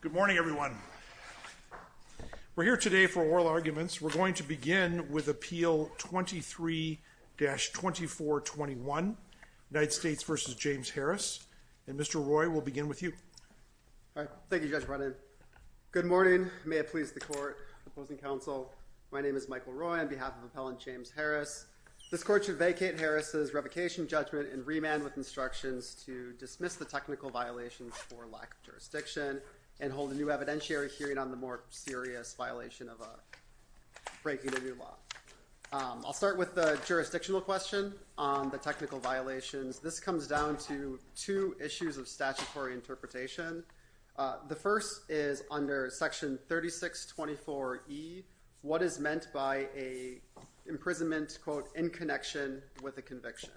Good morning everyone. We're here today for oral arguments. We're going to begin with Appeal 23-2421 United States v. James Harris and Mr. Roy will begin with you. Thank you Judge Brennan. Good morning. May it please the court, opposing counsel, my name is Michael Roy on behalf of Appellant James Harris. This court should vacate Harris's revocation judgment and remand with instructions to and hold a new evidentiary hearing on the more serious violation of a breaking the new law. I'll start with the jurisdictional question on the technical violations. This comes down to two issues of statutory interpretation. The first is under section 3624E, what is meant by a imprisonment quote in connection with a 624E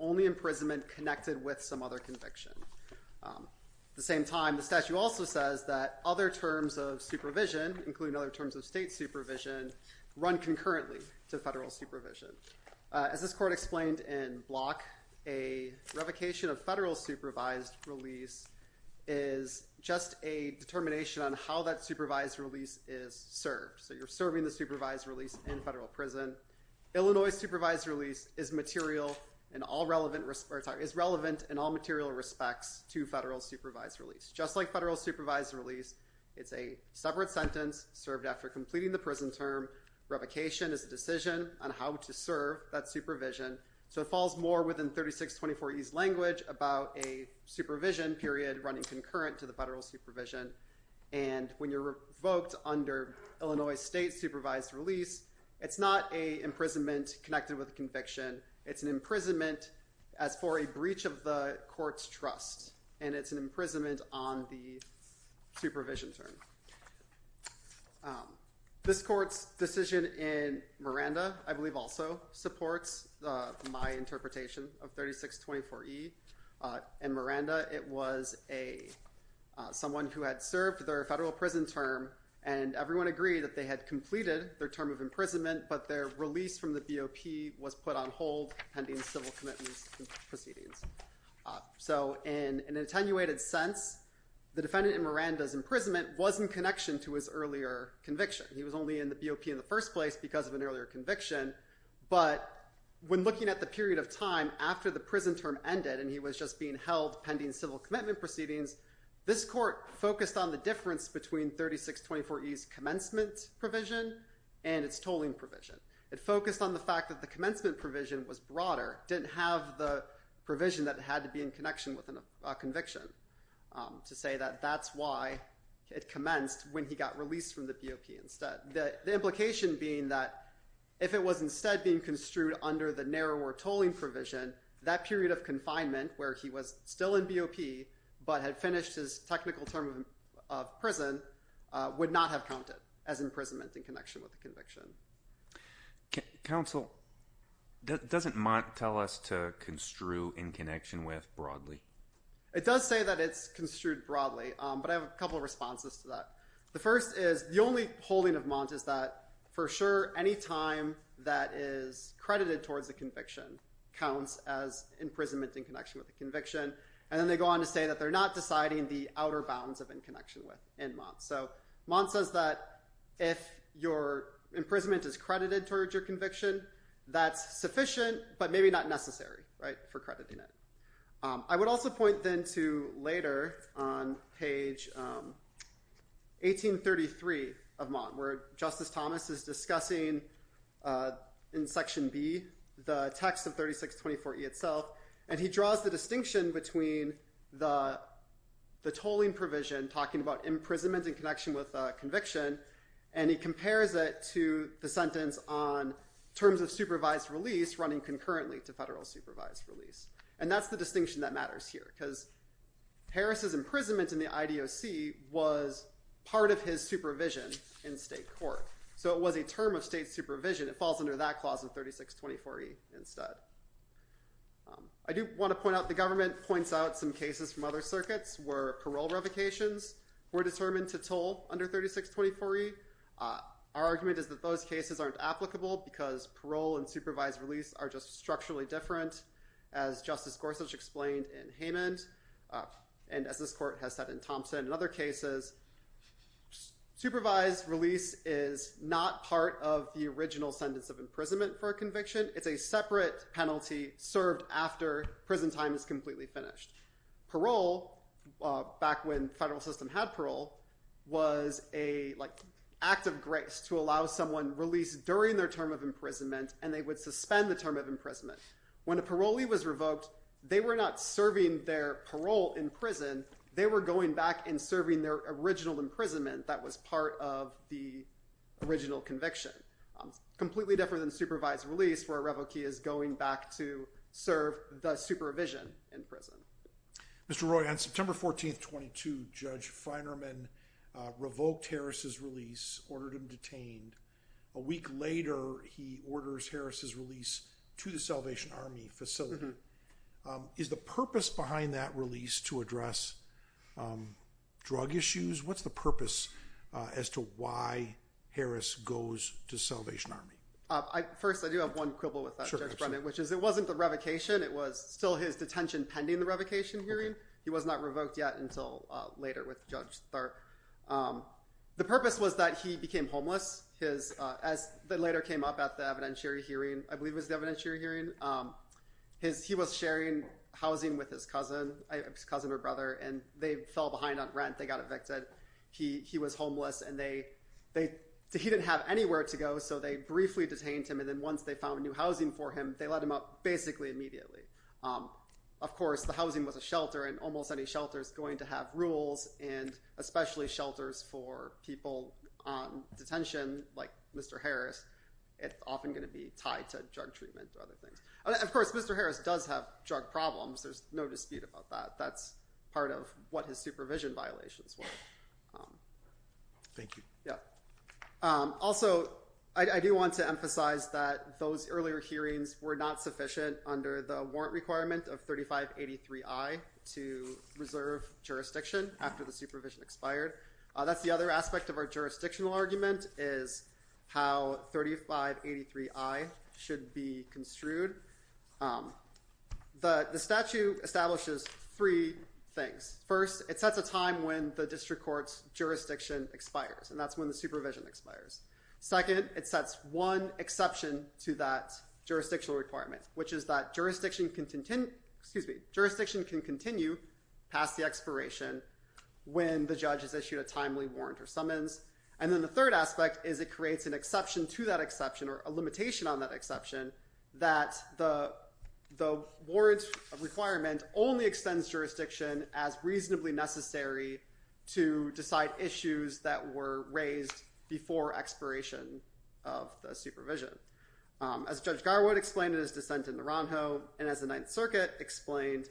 only imprisonment connected with some other conviction. At the same time the statute also says that other terms of supervision, including other terms of state supervision, run concurrently to federal supervision. As this court explained in Block, a revocation of federal supervised release is just a determination on how that supervised release is served. So you're serving the supervised release in federal prison. Illinois supervised release is material and all relevant, is relevant in all material respects to federal supervised release. Just like federal supervised release, it's a separate sentence served after completing the prison term. Revocation is a decision on how to serve that supervision. So it falls more within 3624E's language about a supervision period running concurrent to the federal supervision. And when you're revoked under Illinois state supervised release, it's not a imprisonment as for a breach of the court's trust, and it's an imprisonment on the supervision term. This court's decision in Miranda, I believe also supports my interpretation of 3624E. In Miranda, it was someone who had served their federal prison term, and everyone agreed that they had completed their term of imprisonment, but their release from the BOP was put on hold pending civil commitment proceedings. So in an attenuated sense, the defendant in Miranda's imprisonment was in connection to his earlier conviction. He was only in the BOP in the first place because of an earlier conviction, but when looking at the period of time after the prison term ended and he was just being held pending civil commitment proceedings, this court focused on the difference between 3624E's commencement provision and its tolling provision. It focused on the commencement provision was broader, didn't have the provision that had to be in connection with a conviction to say that that's why it commenced when he got released from the BOP instead. The implication being that if it was instead being construed under the narrower tolling provision, that period of confinement where he was still in BOP but had finished his technical term of prison would not have counted as imprisonment in connection with the conviction. Doesn't Montt tell us to construe in connection with broadly? It does say that it's construed broadly, but I have a couple of responses to that. The first is the only holding of Montt is that for sure any time that is credited towards a conviction counts as imprisonment in connection with the conviction, and then they go on to say that they're not deciding the outer bounds of in connection with in Montt. So Montt says that if your imprisonment is sufficient but maybe not necessary for crediting it. I would also point then to later on page 1833 of Montt where Justice Thomas is discussing in section B the text of 3624E itself, and he draws the distinction between the tolling provision talking about imprisonment in connection with running concurrently to federal supervised release, and that's the distinction that matters here because Harris's imprisonment in the IDOC was part of his supervision in state court. So it was a term of state supervision. It falls under that clause of 3624E instead. I do want to point out the government points out some cases from other circuits where parole revocations were determined to toll under 3624E. Our argument is that those cases aren't applicable because parole and supervised release are just structurally different. As Justice Gorsuch explained in Hammond, and as this court has said in Thompson and other cases, supervised release is not part of the original sentence of imprisonment for a conviction. It's a separate penalty served after prison time is completely finished. Parole, back when federal system had parole, was a like act of grace to allow someone released during their term of imprisonment, and they would suspend the term of imprisonment. When a parolee was revoked, they were not serving their parole in prison. They were going back and serving their original imprisonment that was part of the original conviction. Completely different than supervised release where a revokee is going back to Salvation Army facility. Is the purpose behind that release to address drug issues? What's the purpose as to why Harris goes to Salvation Army? I do have one quibble with that, which is it wasn't the revocation. It was still his detention pending the revocation hearing. He was not revoked yet until later with Judge Tharp. The purpose was that he became homeless. As it later came up at the evidentiary hearing, I believe it was the evidentiary hearing, he was sharing housing with his cousin, his cousin or brother, and they fell behind on rent. They got evicted. He was homeless, and he didn't have anywhere to go, so they briefly detained him, and then once they found new housing for him, they let him up basically immediately. Of course, the housing was a shelter, and almost any shelter is going to have rules, and especially shelters for people on detention like Mr. Harris, it's often going to be tied to drug treatment or other things. Of course, Mr. Harris does have drug problems. There's no dispute about that. That's part of what his supervision violations were. Thank you. Yeah. Also, I do want to emphasize that those earlier hearings were not to reserve jurisdiction after the supervision expired. That's the other aspect of our jurisdictional argument is how 3583I should be construed. The statute establishes three things. First, it sets a time when the district court's jurisdiction expires, and that's when the supervision expires. Second, it sets one exception to that jurisdictional requirement, which is that jurisdiction can continue past the expiration when the judge has issued a timely warrant or summons. And then the third aspect is it creates an exception to that exception or a limitation on that exception that the warrant requirement only extends jurisdiction as reasonably necessary to decide issues that were raised before expiration of the supervision. As Judge Garwood explained in his dissent in the Ronhoe, and as the Ninth Circuit explained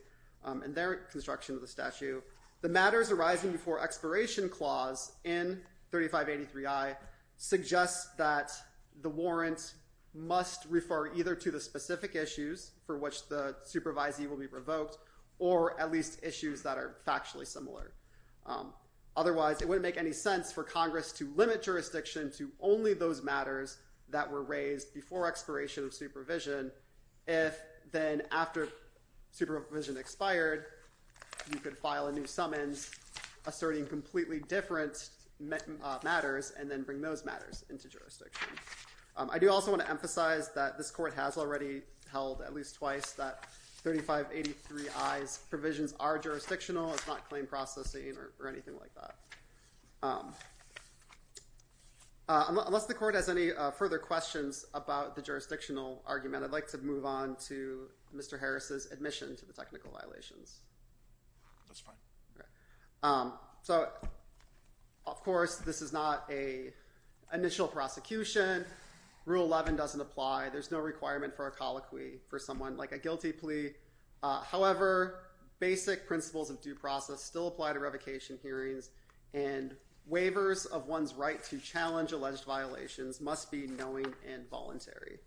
in their construction of the statute, the matters arising before expiration clause in 3583I suggests that the warrant must refer either to the specific issues for which the supervisee will be revoked or at least issues that are factually similar. Otherwise, it wouldn't make any sense for Congress to limit jurisdiction to only those matters that were raised before expiration of supervision if then after supervision expired, you could file a new summons asserting completely different matters and then bring those matters into jurisdiction. I do also want to emphasize that this court has already held at least twice that 3583I's provisions are jurisdictional. It's not claim processing or anything like that. Unless the court has any further questions about the jurisdictional argument, I'd like to move on to Mr. Harris's admission to the technical violations. That's fine. So of course this is not an initial prosecution. Rule 11 doesn't apply. There's no requirement for a colloquy for someone like a guilty plea. However, basic principles of due process still apply to revocation hearings and waivers of one's right to challenge alleged violations must be knowing and voluntary.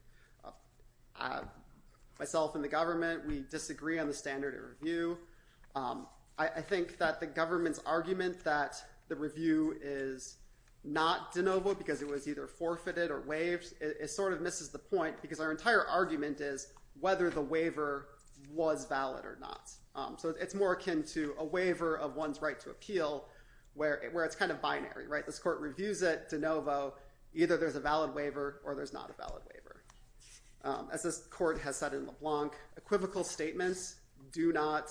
Myself and the government, we disagree on the standard of review. I think that the government's argument that the review is not de novo because it was either forfeited or waived, it sort of misses the point because our entire argument is whether the waiver was valid or not. So it's more akin to a waiver of one's right to appeal where it's kind of binary, right? This court reviews it de novo. Either there's a valid waiver or there's not a valid waiver. As this court has said in LeBlanc, equivocal statements do not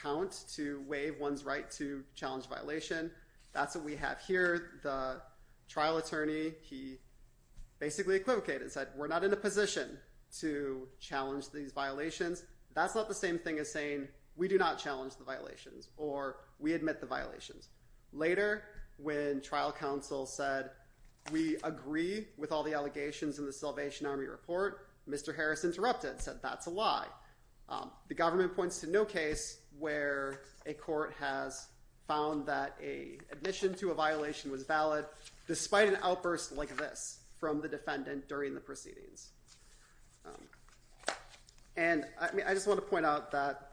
count to waive one's right to challenge violation. That's what we have here. The trial attorney, he basically equivocated and said we're not in a position to challenge these violations. That's not the same thing as saying we do not challenge the violations or we admit the violations. Later when trial counsel said we agree with all the allegations in the Salvation Army report, Mr. Harris interrupted, said that's a lie. The government points to no case where a court has found that a admission to a violation was valid despite an outburst like this from the defendant during the proceedings. And I just want to point out that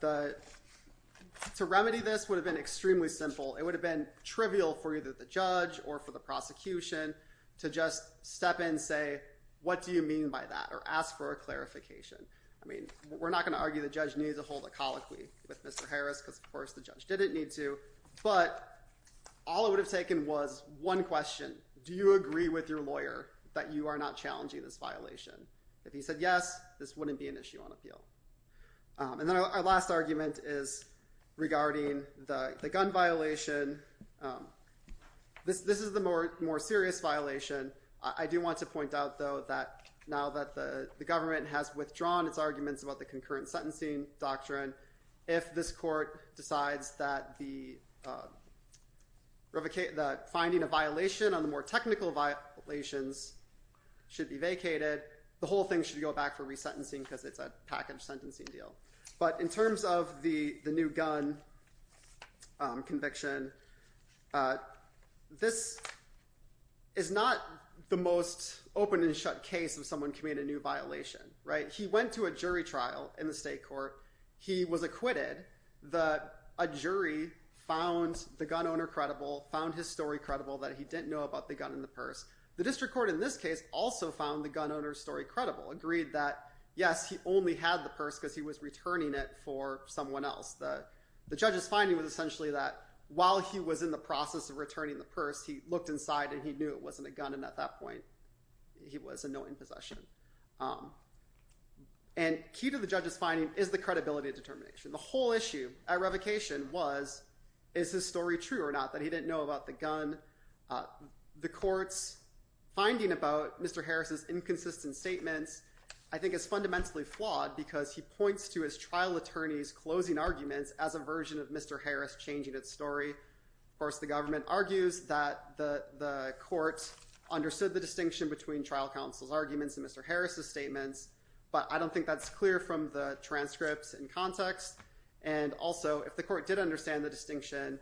to remedy this would have been extremely simple. It would have been trivial for either the judge or for the prosecution to just step in say what do you mean by that or ask for a clarification. I mean we're not going to argue the judge needs a hold a colloquy with Mr. Harris because of course the judge didn't need to. But all it would have taken was one question. Do you agree with your lawyer that you are not challenging this violation? If he said yes, this wouldn't be an issue on appeal. And then our last argument is regarding the gun violation. This is the more serious violation. I do want to point out though that now that the government has withdrawn its arguments about the concurrent sentencing doctrine, if this court decides that finding a violation on the more technical violations should be vacated, the whole thing should go back for resentencing because it's a package sentencing deal. But in terms of the the new gun conviction, this is not the most open-and-shut case of someone committed a new violation. He went to a jury trial in the state court. He was acquitted. A jury found the gun owner credible, found his story credible that he didn't know about the gun in the case, found his story credible, agreed that yes, he only had the purse because he was returning it for someone else. The judge's finding was essentially that while he was in the process of returning the purse, he looked inside and he knew it wasn't a gun and at that point he was in no possession. And key to the judge's finding is the credibility of determination. The whole issue at revocation was is his story true or not, that he didn't know about the gun. The I think it's fundamentally flawed because he points to his trial attorney's closing arguments as a version of Mr. Harris changing its story. Of course the government argues that the the court understood the distinction between trial counsel's arguments and Mr. Harris's statements, but I don't think that's clear from the transcripts and context. And also if the court did understand the distinction,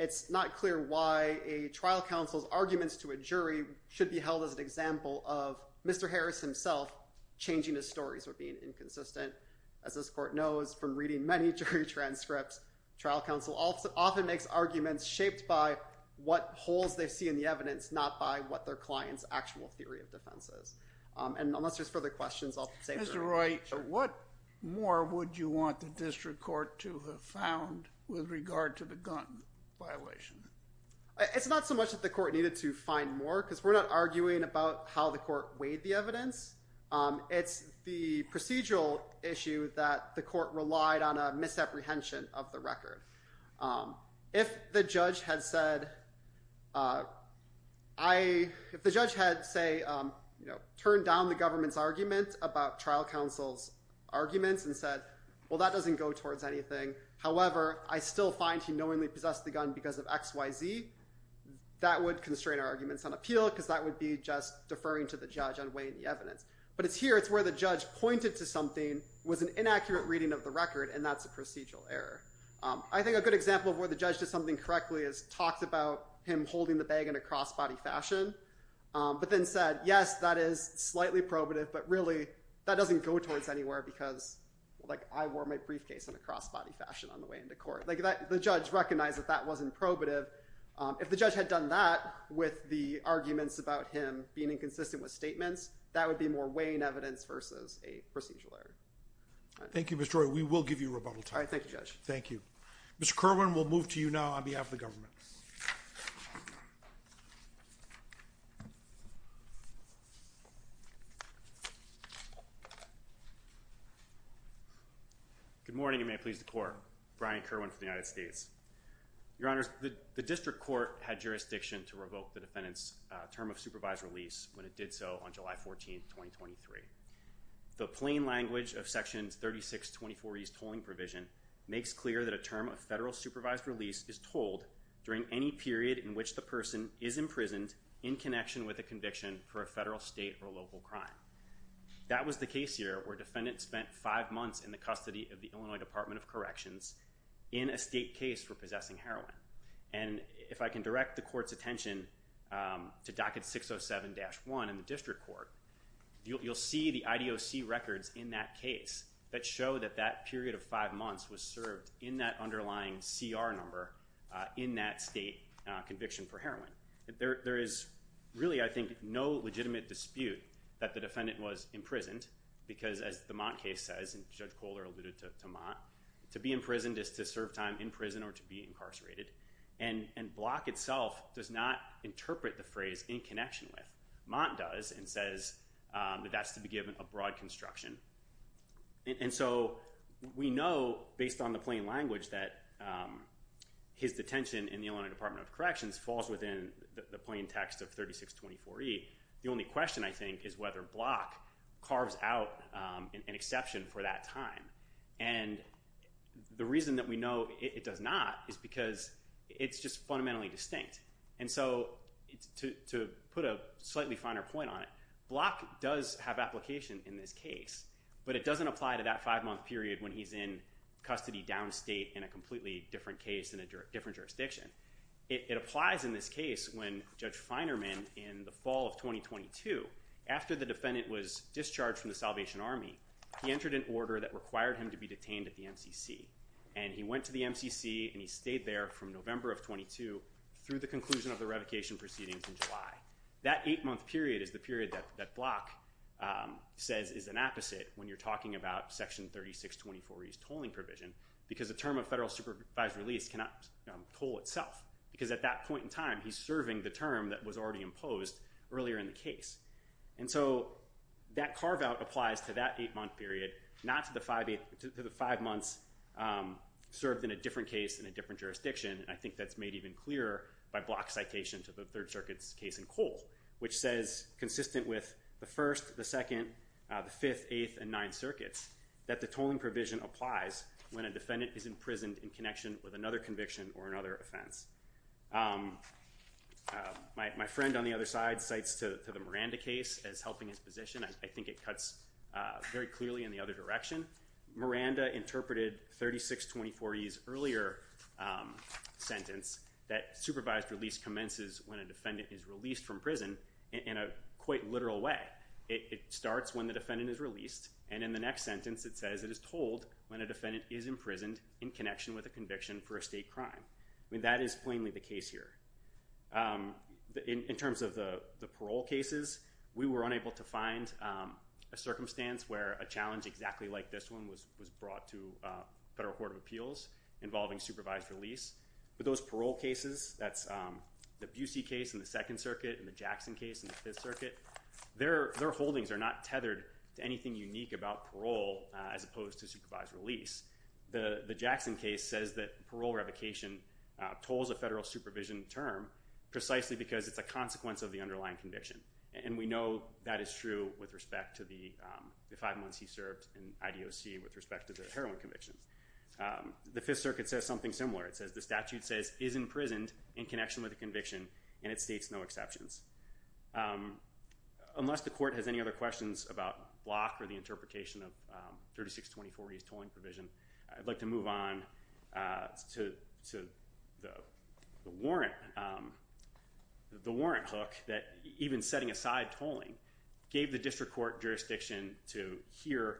it's not clear why a trial counsel's arguments to a jury should be held as an example of Mr. Harris himself changing his stories or being inconsistent. As this court knows from reading many jury transcripts, trial counsel often makes arguments shaped by what holes they see in the evidence, not by what their client's actual theory of defense is. And unless there's further questions, I'll save them. Mr. Roy, what more would you want the district court to have found with regard to the gun violation? It's not so much that the court needed to find more because we're not arguing about how the court weighed the evidence. It's the procedural issue that the court relied on a misapprehension of the record. If the judge had said, if the judge had, say, you know, turned down the government's argument about trial counsel's arguments and said, well that doesn't go towards anything. However, I still find he knowingly possessed the arguments on appeal because that would be just deferring to the judge on weighing the evidence. But it's here, it's where the judge pointed to something, was an inaccurate reading of the record, and that's a procedural error. I think a good example of where the judge did something correctly is talked about him holding the bag in a cross-body fashion, but then said, yes, that is slightly probative, but really that doesn't go towards anywhere because, like, I wore my briefcase in a cross-body fashion on the way into court. Like, the judge recognized that that wasn't probative. If the judge had done that with the arguments about him being inconsistent with statements, that would be more weighing evidence versus a procedural error. Thank you, Mr. Troy. We will give you rebuttal time. All right, thank you, Judge. Thank you. Mr. Kirwan, we'll move to you now on behalf of the government. Good morning, and may it please the court. Brian Kirwan from the United States. Your Honors, the district court had jurisdiction to revoke the defendant's term of supervised release when it did so on July 14, 2023. The plain language of Section 3624E's tolling provision makes clear that a term of federal supervised release is told during any period in which the person is imprisoned in connection with a conviction for a federal, state, or local crime. That was the case here where a defendant spent five months in the custody of the Illinois Department of Corrections in a state case for possessing heroin. And if I can direct the court's attention to docket 607-1 in the district court, you'll see the IDOC records in that case that show that that period of five months was served in that underlying CR number in that state conviction for heroin. There is really, I think, no legitimate dispute that the defendant was imprisoned because, as the Montt case says, and Judge Kohler alluded to Montt, to be imprisoned is to serve time in prison or to be incarcerated. And Block itself does not interpret the phrase in connection with. Montt does and says that that's to be given a broad construction. And so we know based on the plain language that his detention in the Illinois Department of Corrections falls within the plain text of 3624E. The only question, I think, is whether Block carves out an exception for that time. And the reason that we know it does not is because it's just fundamentally distinct. And so to put a slightly finer point on it, Block does have application in this case, but it doesn't apply to that five-month period when he's in custody downstate in a completely different case in a different jurisdiction. It applies in this case when Judge Feinerman, in the fall of 2022, after the defendant was discharged from the Salvation Army, he entered an order that required him to be detained at the MCC. And he went to the MCC and he stayed there from November of 22 through the conclusion of the revocation proceedings in July. That eight-month period is the period that Block says is an opposite when you're talking about section 3624E's tolling provision because the term of federal supervised release cannot toll itself. Because at that point in time, he's serving the term that was already imposed earlier in the case. And so that carve-out applies to that eight-month period, not to the five months served in a different case in a different jurisdiction. I think that's made even clearer by Block's citation to the Third Circuit's case in Cole, which says, consistent with the First, the Second, the Fifth, Eighth, and Ninth Circuits, that the tolling provision applies when a defendant is imprisoned in connection with another conviction or another offense. My friend on the other side cites to the Miranda case as helping his position. I think it cuts very clearly in the other direction. Miranda interpreted 3624E's earlier sentence that supervised release commences when a defendant is released from prison in a quite literal way. It starts when the defendant is released and in the next sentence it says it is told when a defendant is imprisoned in connection with a conviction for a state crime. I mean, that is plainly the case here. In terms of the parole cases, we were unable to find a circumstance where a challenge exactly like this one was brought to Federal Court of Appeals involving supervised release. But those parole cases, that's the Busey case in the Second Circuit and the Jackson case in the Fifth Circuit, their holdings are not tethered to anything unique about parole as opposed to supervised release. The Jackson case says that parole revocation tolls a federal supervision term precisely because it's a consequence of the underlying conviction. And we know that is true with respect to the five months he served in IDOC with respect to the heroin convictions. The Fifth Circuit says something similar. It says the statute says is imprisoned in connection with a conviction and it states no exceptions. Unless the court has any provision, I'd like to move on to the warrant hook that even setting aside tolling gave the district court jurisdiction to hear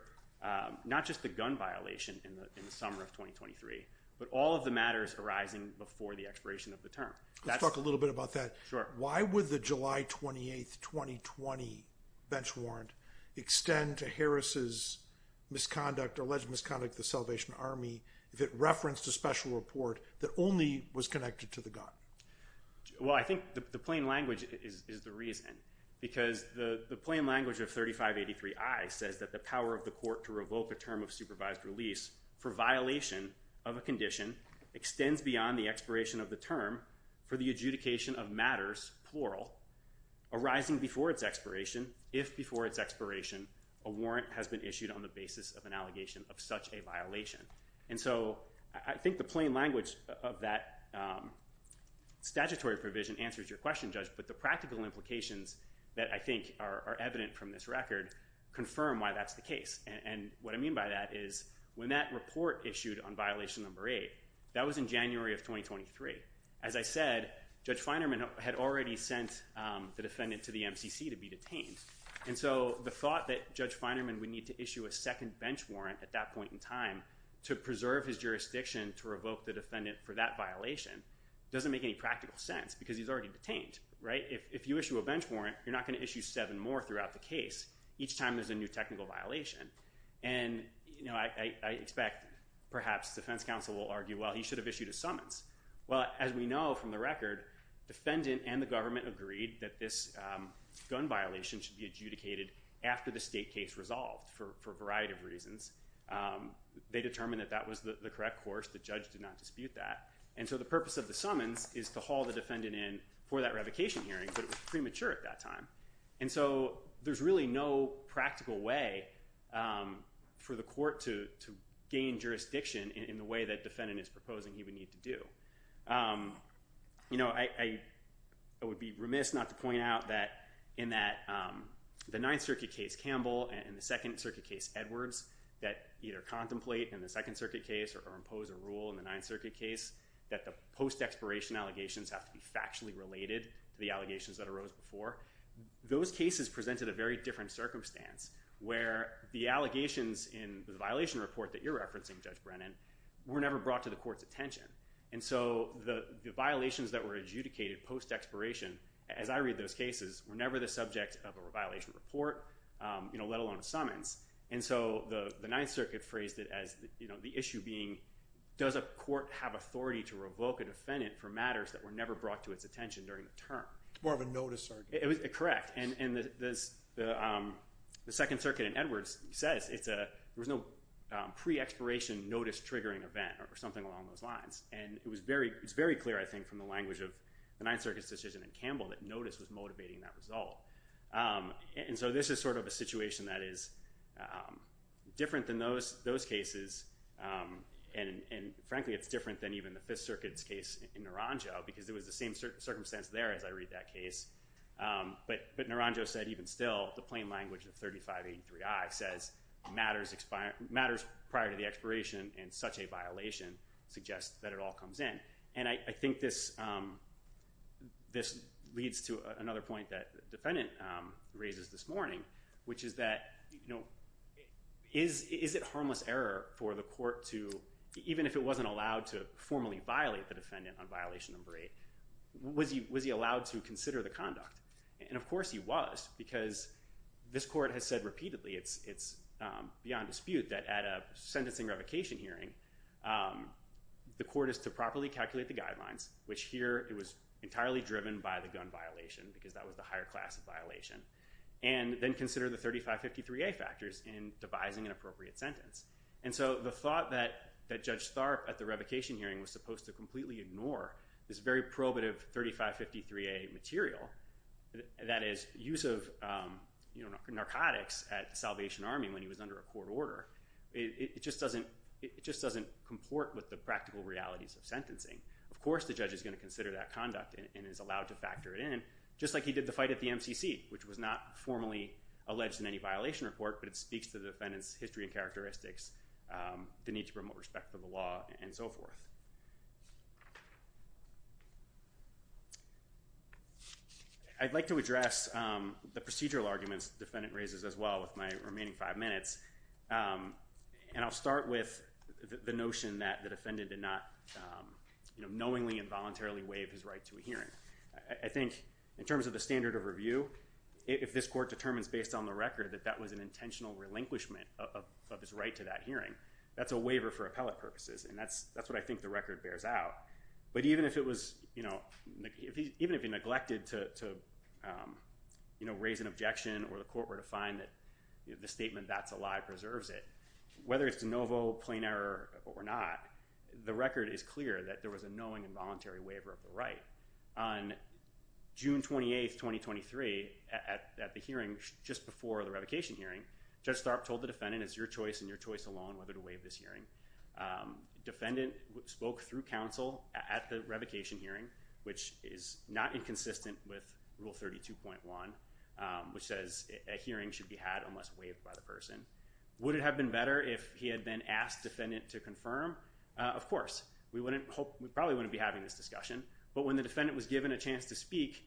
not just the gun violation in the summer of 2023, but all of the matters arising before the expiration of the term. Let's talk a little bit about that. Why would the July 28th 2020 bench warrant extend to Harris's misconduct or alleged misconduct of the Salvation Army if it referenced a special report that only was connected to the gun? Well I think the plain language is the reason because the plain language of 3583I says that the power of the court to revoke a term of supervised release for violation of a condition extends beyond the expiration of the term for the adjudication of matters, plural, arising before its expiration if before its expiration a warrant has been issued on the basis of such a violation. And so I think the plain language of that statutory provision answers your question, Judge, but the practical implications that I think are evident from this record confirm why that's the case. And what I mean by that is when that report issued on violation number eight, that was in January of 2023. As I said, Judge Feinerman had already sent the defendant to the MCC to be detained and so the thought that Judge Feinerman would need to issue a second bench warrant at that point in time to preserve his jurisdiction to revoke the defendant for that violation doesn't make any practical sense because he's already detained, right? If you issue a bench warrant you're not going to issue seven more throughout the case each time there's a new technical violation. And you know I expect perhaps defense counsel will argue well he should have issued a summons. Well as we know from the record defendant and the government agreed that this gun violation should be adjudicated after the state case resolved for a variety of reasons. They determined that that was the correct course. The judge did not dispute that. And so the purpose of the summons is to haul the defendant in for that revocation hearing but it was premature at that time. And so there's really no practical way for the court to gain jurisdiction in the way that defendant is proposing he would need to do. You know I would be remiss not to point out that in that the Ninth Circuit case Campbell and the Second Circuit case Edwards that either contemplate in the Second Circuit case or impose a rule in the Ninth Circuit case that the post-expiration allegations have to be factually related to the allegations that arose before. Those cases presented a very different circumstance where the allegations in the violation report that you're referencing Judge Brennan were never brought to the court's attention. And so the violations that were adjudicated post-expiration as I read those cases were never the subject of a you know let alone a summons. And so the the Ninth Circuit phrased it as you know the issue being does a court have authority to revoke a defendant for matters that were never brought to its attention during the term. More of a notice circuit. Correct. And the Second Circuit in Edwards says it's a there was no pre-expiration notice triggering event or something along those lines. And it was very it's very clear I think from the language of the Ninth Circuit's decision in Campbell that notice was motivating that result. And so this is sort of a situation that is different than those those cases and frankly it's different than even the Fifth Circuit's case in Naranjo because it was the same circumstance there as I read that case. But Naranjo said even still the plain language of 3583I says matters prior to the expiration and such a violation suggests that it all comes in. And I that you know is it harmless error for the court to even if it wasn't allowed to formally violate the defendant on violation number eight was he was he allowed to consider the conduct. And of course he was because this court has said repeatedly it's it's beyond dispute that at a sentencing revocation hearing the court is to properly calculate the guidelines which here it was entirely driven by the gun violation because that was the higher class of violation. And then consider the 3553A factors in devising an appropriate sentence. And so the thought that that Judge Tharp at the revocation hearing was supposed to completely ignore this very probative 3553A material that is use of you know narcotics at Salvation Army when he was under a court order. It just doesn't it just doesn't comport with the practical realities of sentencing. Of course the judge is going to consider that conduct and is allowed to factor it in just like he did the fight at the MCC which was not formally alleged in any violation report but it speaks to the defendant's history and characteristics the need to promote respect for the law and so forth. I'd like to address the procedural arguments defendant raises as well with my remaining five minutes. And I'll start with the notion that the defendant did not you know knowingly involuntarily waive his right to a hearing. I think in the standard of review if this court determines based on the record that that was an intentional relinquishment of his right to that hearing that's a waiver for appellate purposes and that's that's what I think the record bears out. But even if it was you know even if he neglected to you know raise an objection or the court were to find that the statement that's a lie preserves it whether it's de novo plain error or not the record is clear that there was a hearing just before the revocation hearing. Judge Stark told the defendant it's your choice and your choice alone whether to waive this hearing. Defendant spoke through counsel at the revocation hearing which is not inconsistent with rule 32.1 which says a hearing should be had unless waived by the person. Would it have been better if he had been asked defendant to confirm? Of course we wouldn't hope we probably wouldn't be having this discussion but when the defendant was given a chance to speak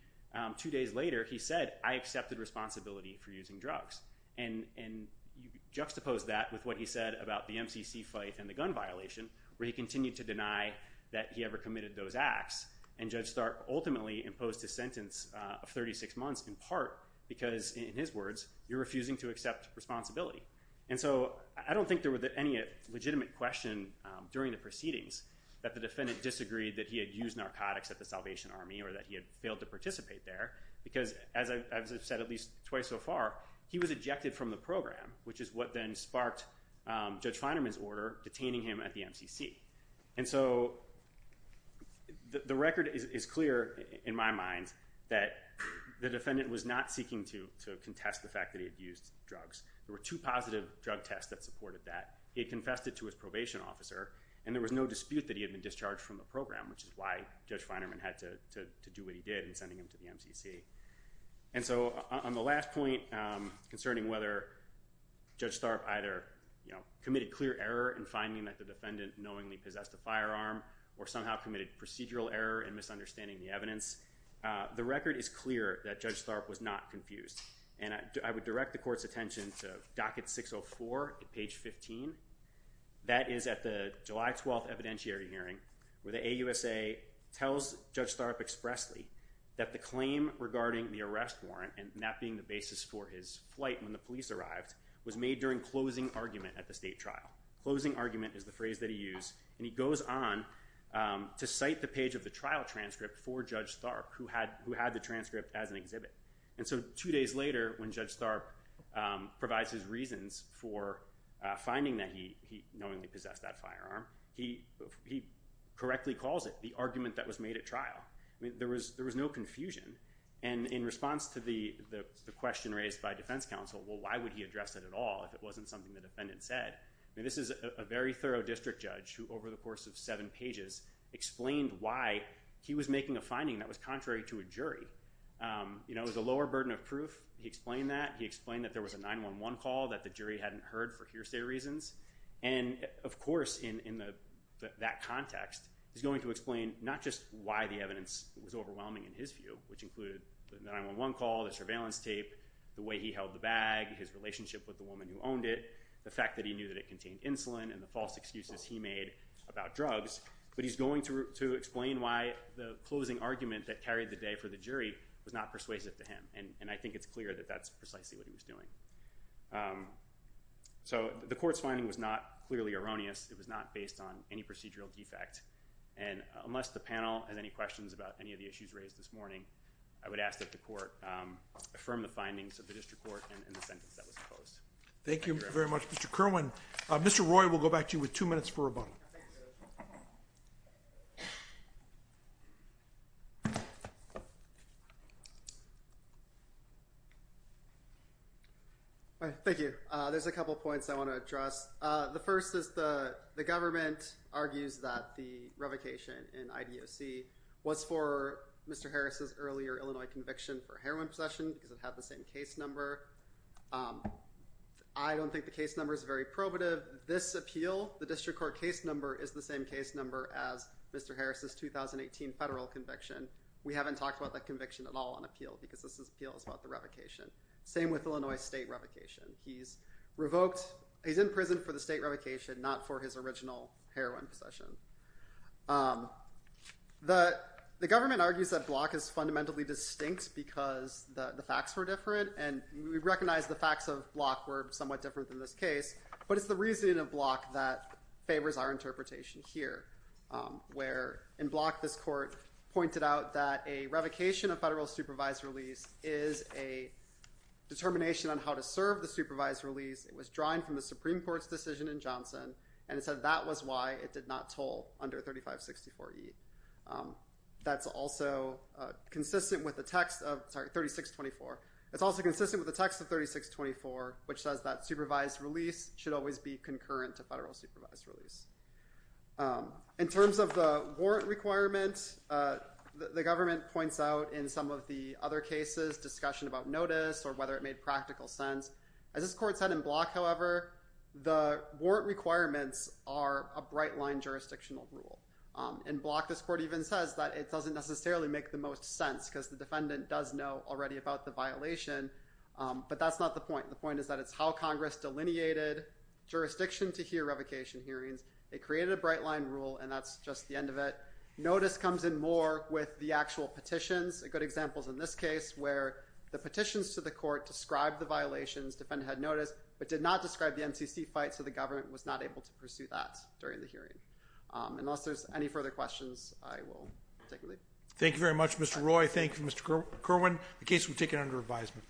two days later he said I accepted responsibility for using drugs and and you juxtapose that with what he said about the MCC fight and the gun violation where he continued to deny that he ever committed those acts and Judge Stark ultimately imposed a sentence of 36 months in part because in his words you're refusing to accept responsibility. And so I don't think there were any legitimate question during the proceedings that the defendant disagreed that he had used narcotics at the Salvation Army or that he had failed to participate there because as I've said at least twice so far he was ejected from the program which is what then sparked Judge Feinerman's order detaining him at the MCC. And so the record is clear in my mind that the defendant was not seeking to contest the fact that he had used drugs. There were two positive drug tests that supported that. He had confessed it to his probation officer and there was no dispute that he had been discharged from the program which is why Judge Feinerman had to do what he did in sending him to the MCC. And so on the last point concerning whether Judge Stark either you know committed clear error in finding that the defendant knowingly possessed a firearm or somehow committed procedural error in misunderstanding the evidence the record is clear that Judge Stark was not confused and I would direct the court's docket 604 at page 15. That is at the July 12th evidentiary hearing where the AUSA tells Judge Stark expressly that the claim regarding the arrest warrant and that being the basis for his flight when the police arrived was made during closing argument at the state trial. Closing argument is the phrase that he used and he goes on to cite the page of the trial transcript for Judge Stark who had who had the transcript as an exhibit. And so two days later when Judge Stark provides his reasons for finding that he knowingly possessed that firearm he correctly calls it the argument that was made at trial. I mean there was there was no confusion and in response to the the question raised by defense counsel well why would he address it at all if it wasn't something the defendant said. I mean this is a very thorough district judge who over the course of seven pages explained why he was making a finding that was contrary to a jury. You know it explained that there was a 9-1-1 call that the jury hadn't heard for hearsay reasons and of course in that context he's going to explain not just why the evidence was overwhelming in his view which included the 9-1-1 call, the surveillance tape, the way he held the bag, his relationship with the woman who owned it, the fact that he knew that it contained insulin and the false excuses he made about drugs. But he's going to explain why the closing argument that carried the day for the jury was not persuasive to him and and I think it's clear that that's precisely what he was doing. So the court's finding was not clearly erroneous. It was not based on any procedural defect and unless the panel has any questions about any of the issues raised this morning I would ask that the court affirm the findings of the district court in the sentence that was proposed. Thank you very much Mr. Kerwin. Mr. Roy will go back to you with two minutes for rebuttal. Thank you. There's a couple points I want to address. The first is the the government argues that the revocation in IDOC was for Mr. Harris's earlier Illinois conviction for heroin possession because it had the same case number. I don't think the case number is very probative. This appeal, the district court case number, is the same case number as Mr. Harris's 2018 federal conviction. We haven't talked about that conviction at all on appeal because this appeal is about the revocation. Same with Illinois state revocation. He's revoked, he's in prison for the state revocation not for his original heroin possession. The government argues that Block is fundamentally distinct because the facts were different and we recognize the facts of Block were somewhat different than this case but it's the reasoning of Block that favors our interpretation here where in Block this court pointed out that a revocation of federal supervised release is a determination on how to serve the supervised release. It was drawing from the Supreme Court's decision in Johnson and it said that was why it did not toll under 3564E. That's also consistent with the text of 3624. It's also consistent with the text of 3624 which says that supervised release should always be concurrent to federal supervised release. In terms of the warrant requirement, the government points out in some of the other cases discussion about notice or whether it made practical sense. As this court said in Block however, the warrant requirements are a bright line jurisdictional rule. In Block this court even says that it doesn't necessarily make the most sense because the defendant does know already about the violation but that's not the point. The point is that it's how Congress delineated jurisdiction to hear revocation hearings. It created a bright line rule and that's just the end of it. Notice comes in more with the actual petitions. A good example is in this case where the petitions to the court described the violations. Defendant had notice but did not describe the NCC fight so the government was not able to pursue that during the hearing. Unless there's any further questions I will take a leave. Thank you very much Mr. Roy. Thank you Mr. Kerwin. The case will be taken under revisement.